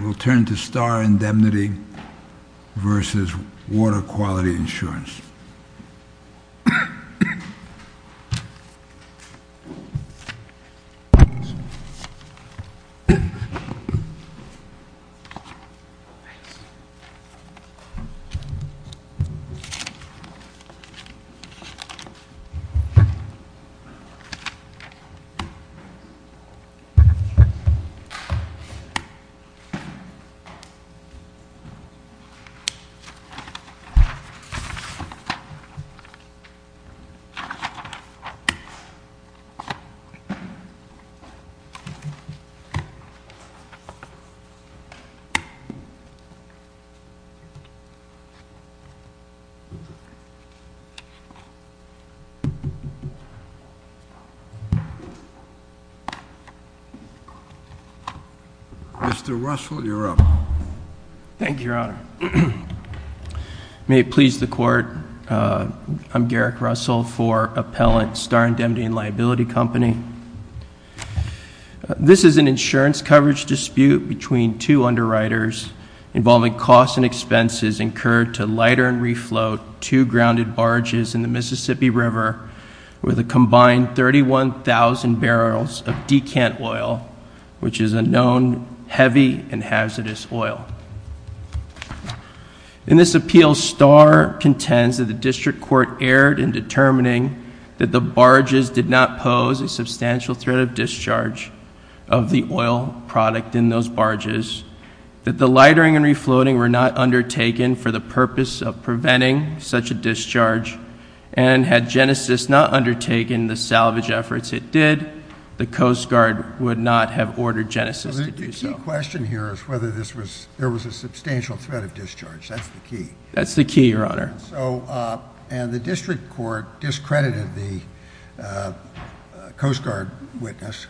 We will turn to Starr Indemnity v. Water Quality Insurance. Mr. Russell, you are on mute. Thank you, Your Honor. May it please the Court, I'm Garrick Russell for Appellant Starr Indemnity & Liability Company. This is an insurance coverage dispute between two underwriters involving costs and expenses incurred to lighter and refloat two grounded barges in the Mississippi River with a combined 31,000 barrels of decant oil, which is a known heavy and hazardous substance. In this appeal, Starr contends that the District Court erred in determining that the barges did not pose a substantial threat of discharge of the oil product in those barges, that the lightening and refloating were not undertaken for the purpose of preventing such a discharge, and had Genesys not undertaken the salvage efforts it did, the Coast Guard would not have ordered Genesys to do so. My question here is whether there was a substantial threat of discharge, that's the key. That's the key, Your Honor. And the District Court discredited the Coast Guard witness,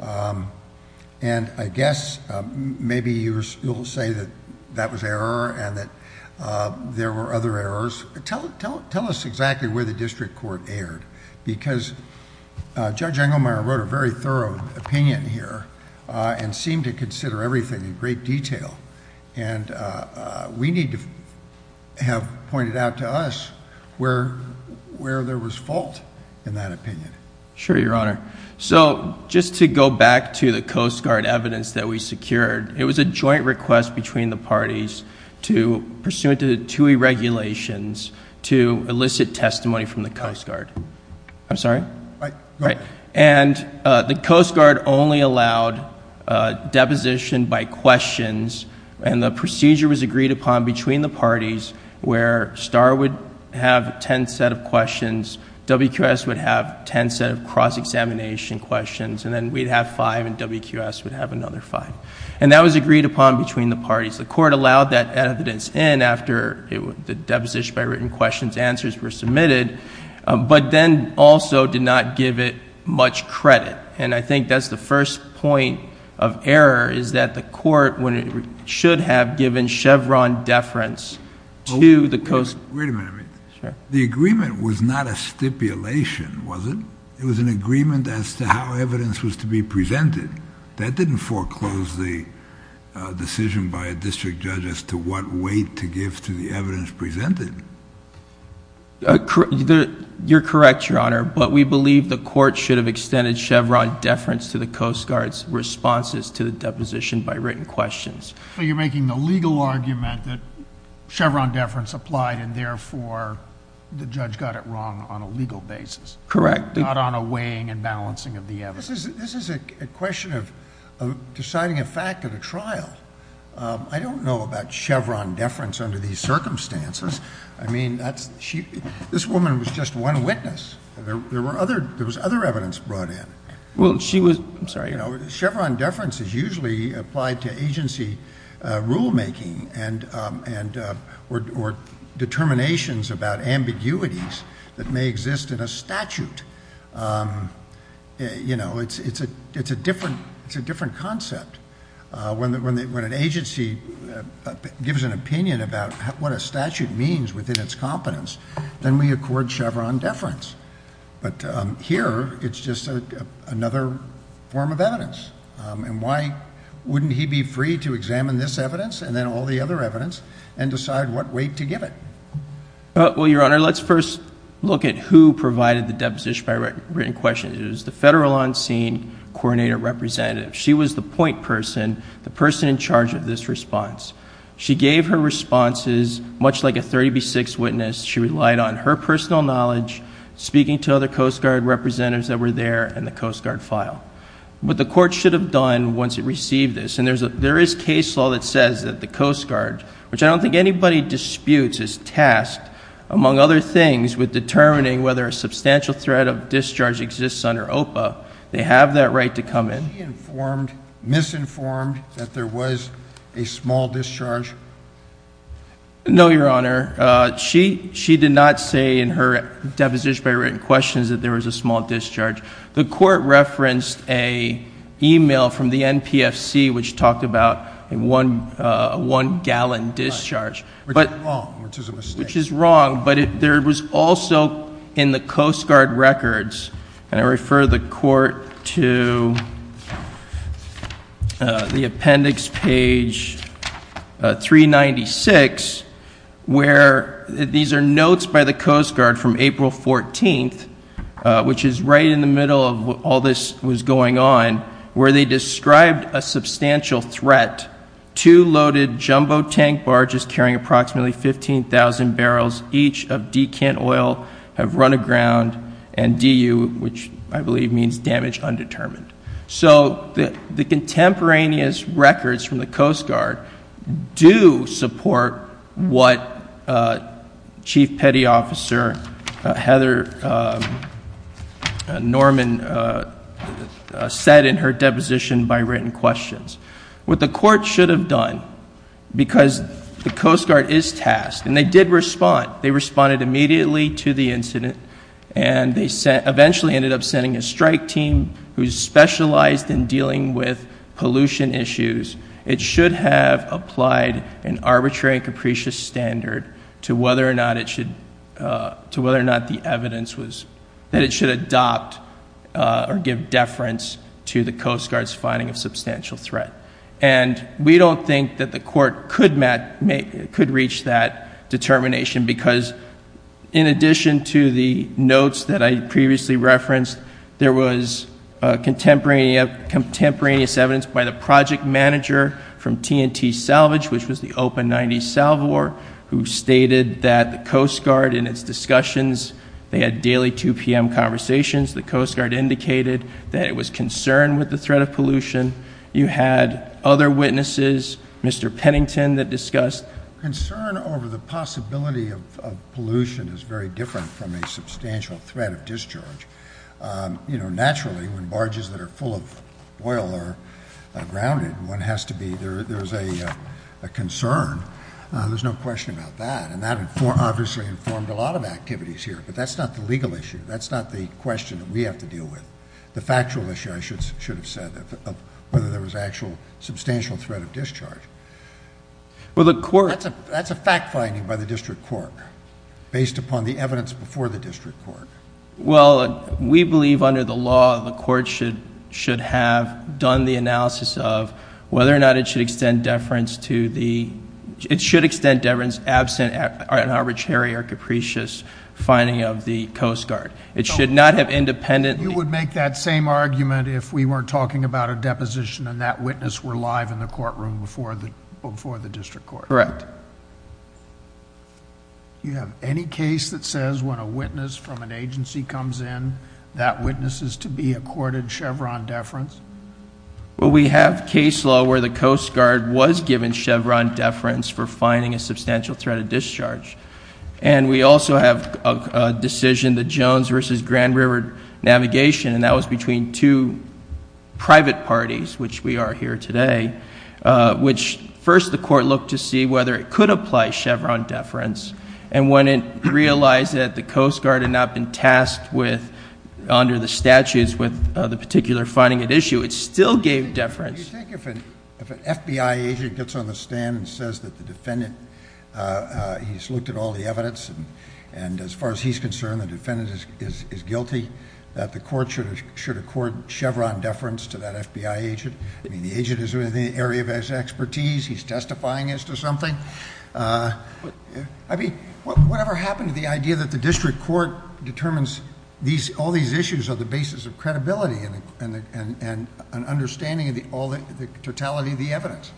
and I guess maybe you'll say that that was error and that there were other errors. Tell us exactly where the District Court erred, because Judge Engelmeyer wrote a very thorough opinion here and seemed to consider everything in great detail. And we need to have pointed out to us where there was fault in that opinion. Sure, Your Honor. So just to go back to the Coast Guard evidence that we secured, it was a joint request between the parties to, pursuant to the TUI regulations, to elicit testimony from the Coast Guard. I'm sorry? Right. Right. And the Coast Guard only allowed deposition by questions, and the procedure was agreed upon between the parties where STAAR would have 10 set of questions, WQS would have 10 set of cross-examination questions, and then we'd have five and WQS would have another five. And that was agreed upon between the parties. The Court allowed that evidence in after the deposition by written questions answers were submitted, but then also did not give it much credit. And I think that's the first point of error, is that the Court should have given Chevron deference to the Coast Guard. Wait a minute. The agreement was not a stipulation, was it? It was an agreement as to how evidence was to be presented. That didn't foreclose the decision by a district judge as to what weight to give to the evidence presented. You're correct, Your Honor, but we believe the Court should have extended Chevron deference to the Coast Guard's responses to the deposition by written questions. So you're making the legal argument that Chevron deference applied and therefore the judge got it wrong on a legal basis. Correct. Not on a weighing and balancing of the evidence. This is a question of deciding a fact at a trial. I don't know about Chevron deference under these circumstances. I mean, this woman was just one witness. There was other evidence brought in. Well, she was, I'm sorry. You know, Chevron deference is usually applied to agency rulemaking or determinations about ambiguities that may exist in a statute. You know, it's a different concept. When an agency gives an opinion about what a statute means within its competence, then we accord Chevron deference. But here, it's just another form of evidence. And why wouldn't he be free to examine this evidence and then all the other evidence and decide what weight to give it? Well, Your Honor, let's first look at who provided the deposition by written questions. It was the federal on-scene coordinator representative. She was the point person, the person in charge of this response. She gave her responses much like a 30 v. 6 witness. She relied on her personal knowledge, speaking to other Coast Guard representatives that were there in the Coast Guard file. What the court should have done once it received this, and there is case law that says that the Coast Guard, which I don't think anybody disputes, is tasked, among other things, with determining whether a substantial threat of discharge exists under OPA. They have that right to come in. Was she informed, misinformed, that there was a small discharge? No, Your Honor. She did not say in her deposition by written questions that there was a small discharge. The court referenced an email from the NPFC which talked about a one-gallon discharge. Which is wrong, which is a mistake. Which is wrong, but there was also in the Coast Guard records, and I refer the court to the appendix page 396, where these are notes by the Coast Guard from April 14th, which is right in the middle of all this was going on, where they described a substantial threat. Two loaded jumbo tank barges carrying approximately 15,000 barrels each of decant oil have run aground, and DU, which I believe means damage undetermined. So the contemporaneous records from the Coast Guard do support what Chief Petty Officer Heather Norman said in her deposition by written questions. What the court should have done, because the Coast Guard is tasked, and they did respond. They responded immediately to the incident. And they eventually ended up sending a strike team who specialized in dealing with pollution issues. It should have applied an arbitrary and capricious standard to whether or not the evidence was, that it should adopt or give deference to the Coast Guard's finding of substantial threat. And we don't think that the court could reach that determination, because in addition to the notes that I previously referenced, there was contemporaneous evidence by the project manager from TNT Salvage, which was the Open 90 Salvo, who stated that the Coast Guard in its discussions, they had daily 2 PM conversations. The Coast Guard indicated that it was concerned with the threat of pollution. You had other witnesses, Mr. Pennington that discussed. Concern over the possibility of pollution is very different from a substantial threat of discharge. Naturally, when barges that are full of oil are grounded, there's a concern. There's no question about that. And that obviously informed a lot of activities here. But that's not the legal issue. That's not the question that we have to deal with. The factual issue, I should have said, of whether there was actual substantial threat of discharge. That's a fact finding by the district court, based upon the evidence before the district court. Well, we believe under the law, the court should have done the analysis of whether or not it should extend deference to the, it should extend deference absent an arbitrary or capricious finding of the Coast Guard. It should not have independent... You would make that same argument if we weren't talking about a deposition and that witness were live in the courtroom before the district court. Correct. Do you have any case that says when a witness from an agency comes in, that witness is to be accorded Chevron deference? Well, we have case law where the Coast Guard was given Chevron deference for finding a substantial threat of discharge. And we also have a decision, the Jones versus Grand River Navigation, and that was between two private parties, which we are here today, which first the court looked to see whether it could apply Chevron deference. And when it realized that the Coast Guard had not been tasked with, under the statutes, with the particular finding at issue, it still gave deference. Do you think if an FBI agent gets on the stand and says that the defendant, he's looked at all the evidence, and as far as he's concerned, the defendant is guilty, that the court should accord Chevron deference to that FBI agent? I mean, the agent is in the area of his expertise. He's testifying as to something. I mean, whatever happened to the idea that the district court determines all these issues are the basis of credibility and an understanding of the totality of the evidence.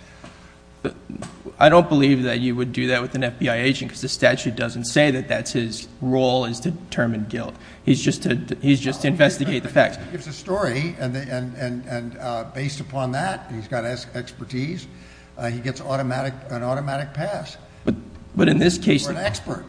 I don't believe that you would do that with an FBI agent because the statute doesn't say that that's his role is to determine guilt. He's just to investigate the facts. He gives a story, and based upon that, he's got expertise. He gets an automatic pass. But in this case- Or an expert.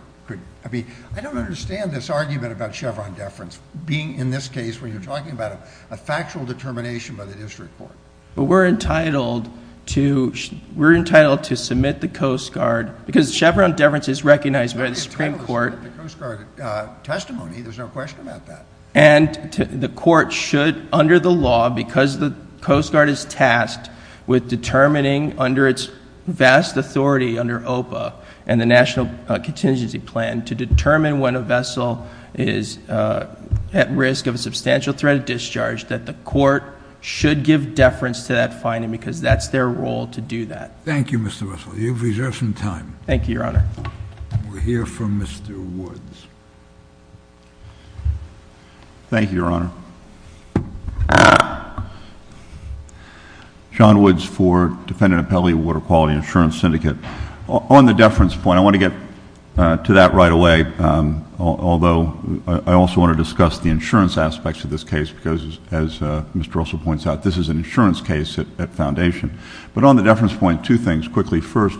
I mean, I don't understand this argument about Chevron deference. Being in this case where you're talking about a factual determination by the district court. But we're entitled to submit the Coast Guard, because Chevron deference is recognized by the Supreme Court. We're entitled to submit the Coast Guard testimony. There's no question about that. And the court should, under the law, because the Coast Guard is tasked with determining under its vast authority under OPA and the National Contingency Plan to determine when a vessel is at risk of a substantial threat of discharge, that the court should give deference to that finding because that's their role to do that. Thank you, Mr. Russell. You've reserved some time. Thank you, Your Honor. We'll hear from Mr. Woods. Thank you, Your Honor. John Woods for Defendant Appellee, Water Quality Insurance Syndicate. On the deference point, I want to get to that right away, although I also want to discuss the insurance aspects of this case, because, as Mr. Russell points out, this is an insurance case at Foundation. But on the deference point, two things quickly. First,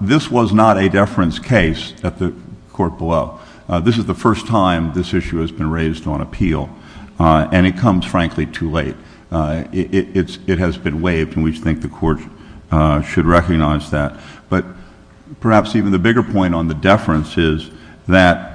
this was not a deference case at the court below. This is the first time this issue has been raised on appeal, and it comes, frankly, too late. It has been waived, and we think the court should recognize that. But perhaps even the bigger point on the deference is that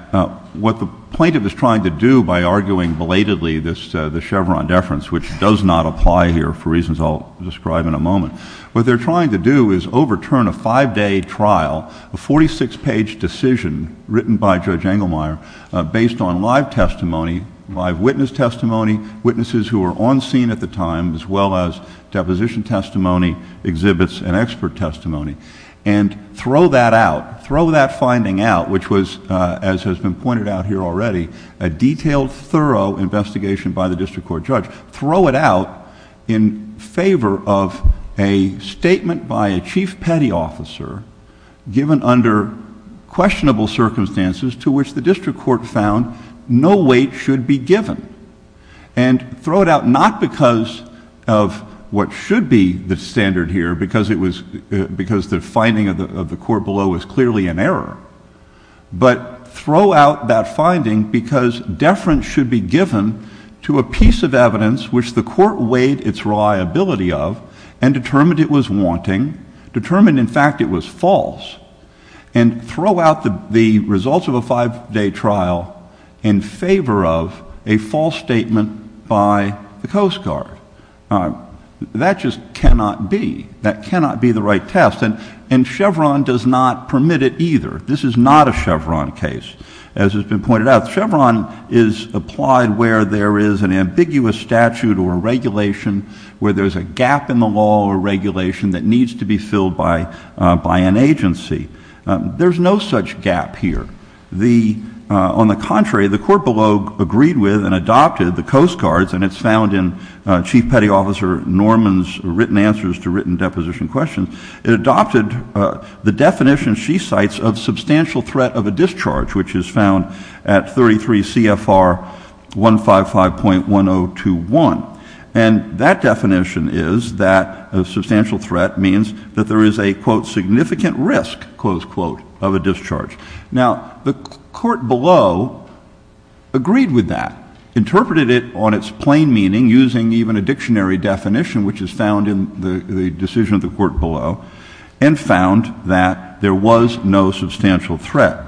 what the plaintiff is trying to do by arguing belatedly the Chevron deference, which does not apply here for reasons I'll describe in a moment, what they're trying to do is overturn a five-day trial, a 46-page decision written by Judge Engelmeyer based on live testimony, live witness testimony, witnesses who were on scene at the time, as well as deposition testimony, exhibits, and expert testimony, and throw that out, throw that finding out, which was, as has been pointed out here already, a detailed, thorough investigation by the district court judge. Throw it out in favor of a statement by a Chief Petty Officer given under questionable circumstances to which the district court found no weight should be given. And throw it out not because of what should be the standard here, because the finding of the court below was clearly an error, but throw out that finding because deference should be given to a piece of evidence which the court weighed its reliability of and determined it was wanting, determined, in fact, it was false, and throw out the results of a five-day trial in favor of a false statement by the Coast Guard. That just cannot be. That cannot be the right test, and Chevron does not permit it either. This is not a Chevron case. As has been pointed out, Chevron is applied where there is an ambiguous statute or regulation, where there's a gap in the law or regulation that needs to be filled by an agency. There's no such gap here. On the contrary, the court below agreed with and adopted the Coast Guard's, and it's found in Chief Petty Officer Norman's written answers to written deposition questions. It adopted the definition she cites of substantial threat of a discharge, which is found at 33 CFR 155.1021. And that definition is that a substantial threat means that there is a, quote, significant risk, close quote, of a discharge. Now, the court below agreed with that, interpreted it on its plain meaning, using even a dictionary definition, which is found in the decision of the court below, and found that there was no substantial threat.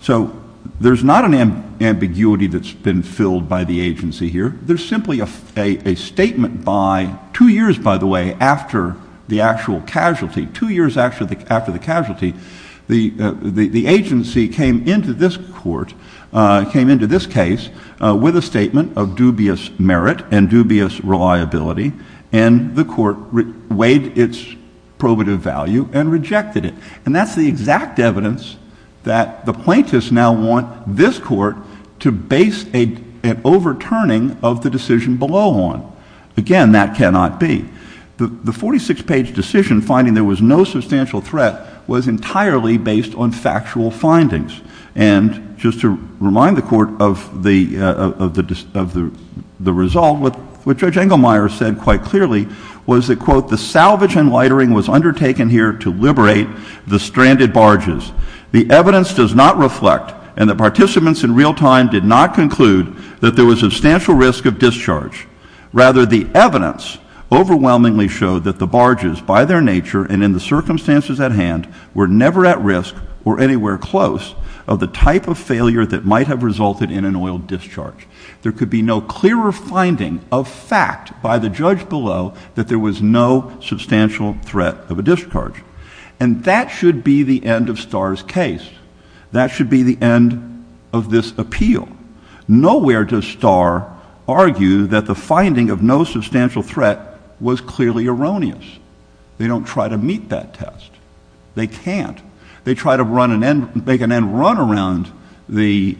So there's not an ambiguity that's been filled by the agency here. There's simply a statement by, two years, by the way, after the actual casualty, two years after the casualty, the agency came into this court, came into this case with a statement of dubious merit and dubious reliability, and the court weighed its probative value and rejected it. And that's the exact evidence that the plaintiffs now want this court to base an overturning of the decision below on. Again, that cannot be. The 46-page decision finding there was no substantial threat was entirely based on factual findings. And just to remind the court of the result, what Judge Engelmeyer said quite clearly was that, quote, the salvage and lightering was undertaken here to liberate the stranded barges. The evidence does not reflect, and the participants in real time did not conclude, that there was substantial risk of discharge. Rather, the evidence overwhelmingly showed that the barges, by their nature and in the circumstances at hand, were never at risk or anywhere close of the type of failure that might have resulted in an oil discharge. There could be no clearer finding of fact by the judge below that there was no substantial threat of a discharge. And that should be the end of Starr's case. That should be the end of this appeal. Nowhere does Starr argue that the finding of no substantial threat was clearly erroneous. They don't try to meet that test. They can't. They try to make an end run around the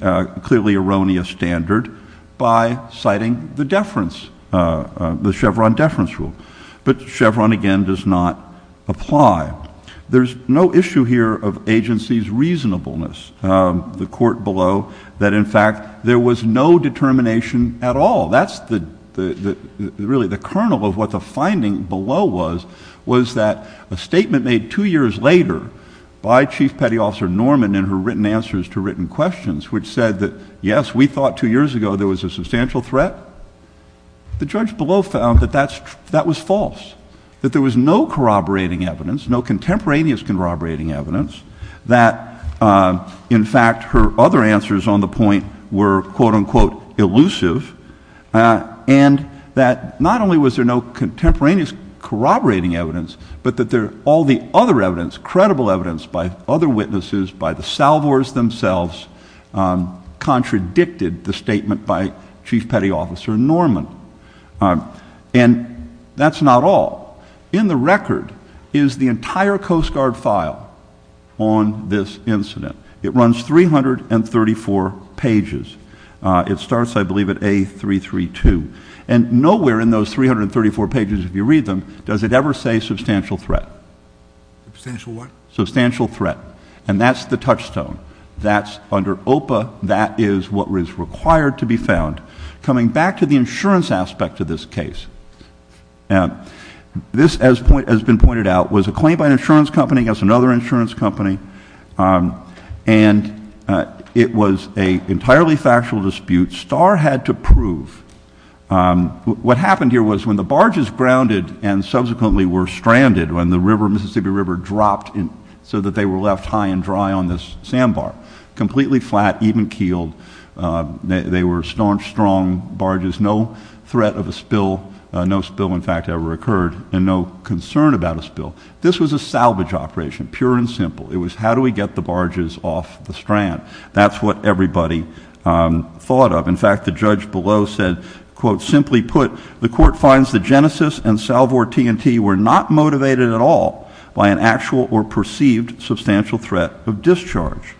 clearly erroneous standard by citing the deference, the Chevron deference rule. But Chevron, again, does not apply. There's no issue here of agency's reasonableness, the court below, that in fact there was no determination at all. That's really the kernel of what the finding below was, was that a statement made two years later by Chief Petty Officer Norman in her written answers to written questions, which said that, yes, we thought two years ago there was a substantial threat. The judge below found that that was false, that there was no corroborating evidence, no contemporaneous corroborating evidence, that, in fact, her other answers on the point were quote-unquote elusive, and that not only was there no contemporaneous corroborating evidence, but that all the other evidence, credible evidence by other witnesses, by the salvors themselves, contradicted the statement by Chief Petty Officer Norman. And that's not all. In the record is the entire Coast Guard file on this incident. It runs 334 pages. It starts, I believe, at A332. And nowhere in those 334 pages, if you read them, does it ever say substantial threat. Substantial what? Substantial threat. And that's the touchstone. That's under OPA. That is what is required to be found. Coming back to the insurance aspect of this case, this, as has been pointed out, was a claim by an insurance company against another insurance company, and it was an entirely factual dispute. Starr had to prove. What happened here was when the barges grounded and subsequently were stranded, when the Mississippi River dropped so that they were left high and dry on this sandbar, completely flat, even keeled, they were strong barges, no threat of a spill, no spill, in fact, ever occurred, and no concern about a spill. This was a salvage operation, pure and simple. It was how do we get the barges off the strand. That's what everybody thought of. In fact, the judge below said, quote, Simply put, the court finds that Genesis and Salvor T&T were not motivated at all by an actual or perceived substantial threat of discharge.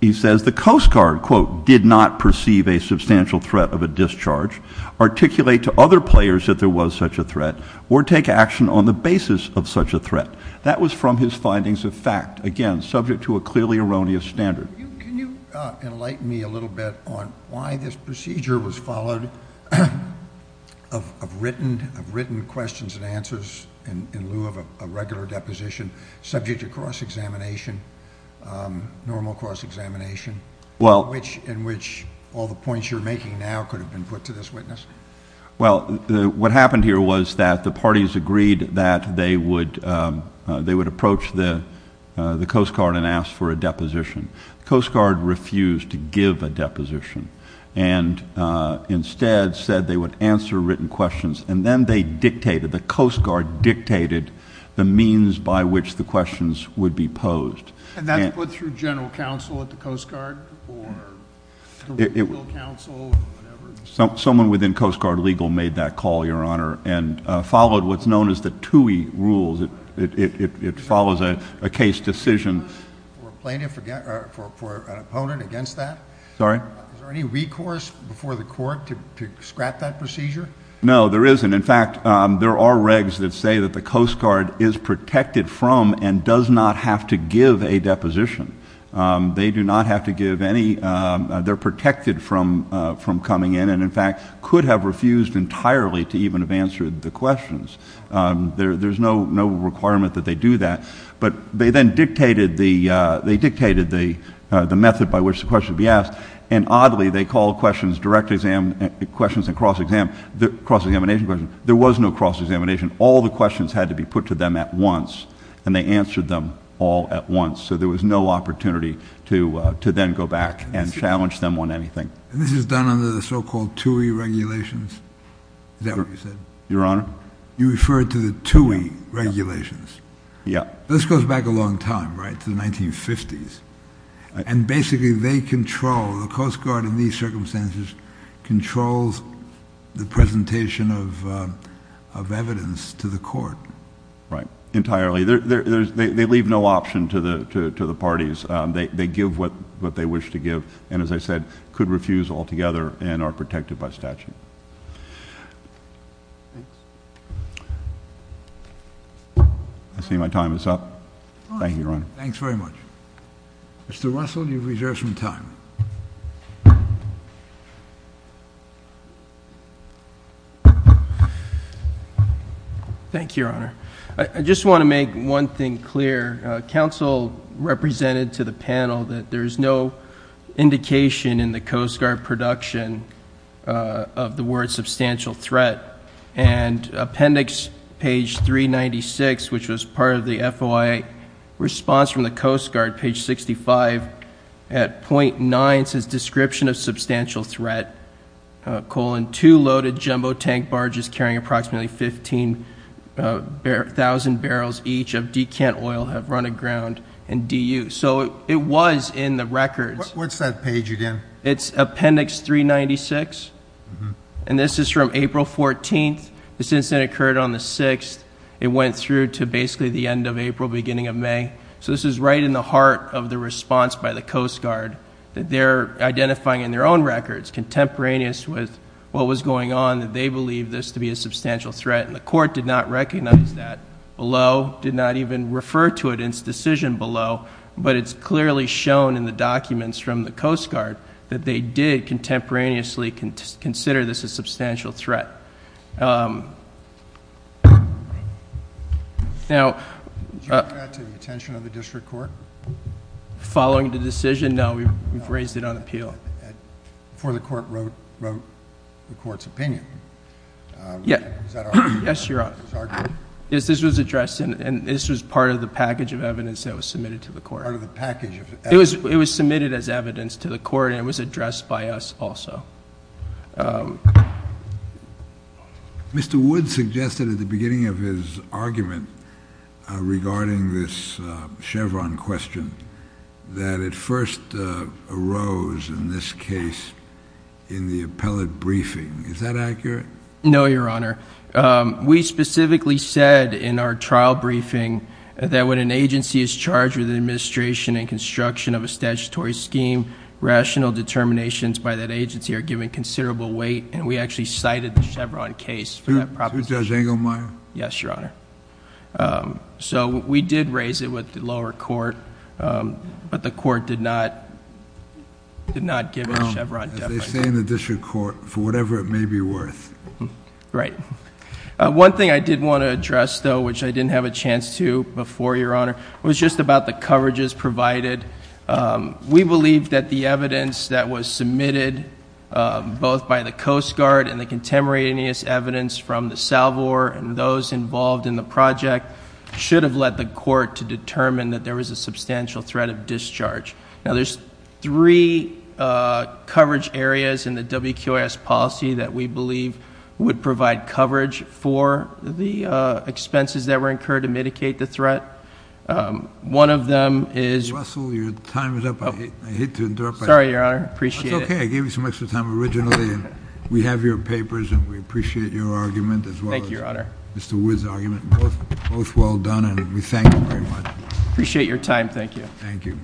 He says the Coast Guard, quote, did not perceive a substantial threat of a discharge, articulate to other players that there was such a threat, or take action on the basis of such a threat. That was from his findings of fact, again, subject to a clearly erroneous standard. Can you enlighten me a little bit on why this procedure was followed, of written questions and answers in lieu of a regular deposition, subject to cross-examination, normal cross-examination, in which all the points you're making now could have been put to this witness? Well, what happened here was that the parties agreed that they would approach the Coast Guard and ask for a deposition. The Coast Guard refused to give a deposition and instead said they would answer written questions, and then they dictated, the Coast Guard dictated, the means by which the questions would be posed. And that's put through general counsel at the Coast Guard or legal counsel or whatever? Someone within Coast Guard legal made that call, Your Honor, and followed what's known as the TUI rules. It follows a case decision. For an opponent against that? Sorry? Is there any recourse before the court to scrap that procedure? No, there isn't. In fact, there are regs that say that the Coast Guard is protected from and does not have to give a deposition. They do not have to give any. They're protected from coming in and, in fact, could have refused entirely to even have answered the questions. There's no requirement that they do that. But they then dictated the method by which the questions would be asked, and oddly they called questions direct exam questions and cross examination questions. There was no cross examination. All the questions had to be put to them at once, and they answered them all at once. So there was no opportunity to then go back and challenge them on anything. And this is done under the so-called TUI regulations? Is that what you said? Your Honor? You referred to the TUI regulations. Yeah. This goes back a long time, right, to the 1950s. And basically they control, the Coast Guard in these circumstances, controls the presentation of evidence to the court. Right, entirely. They leave no option to the parties. They give what they wish to give and, as I said, could refuse altogether and are protected by statute. I see my time is up. Thank you, Your Honor. Thanks very much. Mr. Russell, you've reserved some time. Thank you, Your Honor. I just want to make one thing clear. Council represented to the panel that there is no indication in the Coast Guard production of the word substantial threat. And appendix page 396, which was part of the FOIA response from the Coast Guard, page 65, at .9 says description of substantial threat, colon, two loaded jumbo tank barges carrying approximately 15,000 barrels each of running ground and DU. So it was in the records. What's that page again? It's appendix 396. And this is from April 14th. This incident occurred on the 6th. It went through to basically the end of April, beginning of May. So this is right in the heart of the response by the Coast Guard that they're identifying in their own records, contemporaneous with what was going on, that they believe this to be a substantial threat. And the court did not recognize that below, did not even refer to it in its decision below. But it's clearly shown in the documents from the Coast Guard that they did contemporaneously consider this a substantial threat. Now... Did you bring that to the attention of the district court? Following the decision? No, we've raised it on appeal. Before the court wrote the court's opinion. Yeah. Yes, Your Honor. Yes, this was addressed, and this was part of the package of evidence that was submitted to the court. Part of the package of evidence? It was submitted as evidence to the court, and it was addressed by us also. Mr. Wood suggested at the beginning of his argument regarding this Chevron question that it first arose in this case in the appellate briefing. Is that accurate? No, Your Honor. We specifically said in our trial briefing that when an agency is charged with administration and construction of a statutory scheme, rational determinations by that agency are given considerable weight, and we actually cited the Chevron case for that proposition. Who does, Engelmeyer? Yes, Your Honor. So we did raise it with the lower court, but the court did not give it a Chevron definition. They stay in the district court for whatever it may be worth. Right. One thing I did want to address, though, which I didn't have a chance to before, Your Honor, was just about the coverages provided. We believe that the evidence that was submitted both by the Coast Guard and the contemporaneous evidence from the Salvor and those involved in the project should have led the court to determine that there was a substantial threat of discharge. Now, there's three coverage areas in the WQIS policy that we believe would provide coverage for the expenses that were incurred to mitigate the threat. One of them is... Russell, your time is up. I hate to interrupt. Sorry, Your Honor. I appreciate it. That's okay. I gave you some extra time originally, and we have your papers, and we appreciate your argument as well as Mr. Wood's argument. Thank you, Your Honor. Both well done, and we thank you very much. Appreciate your time. Thank you. Thank you.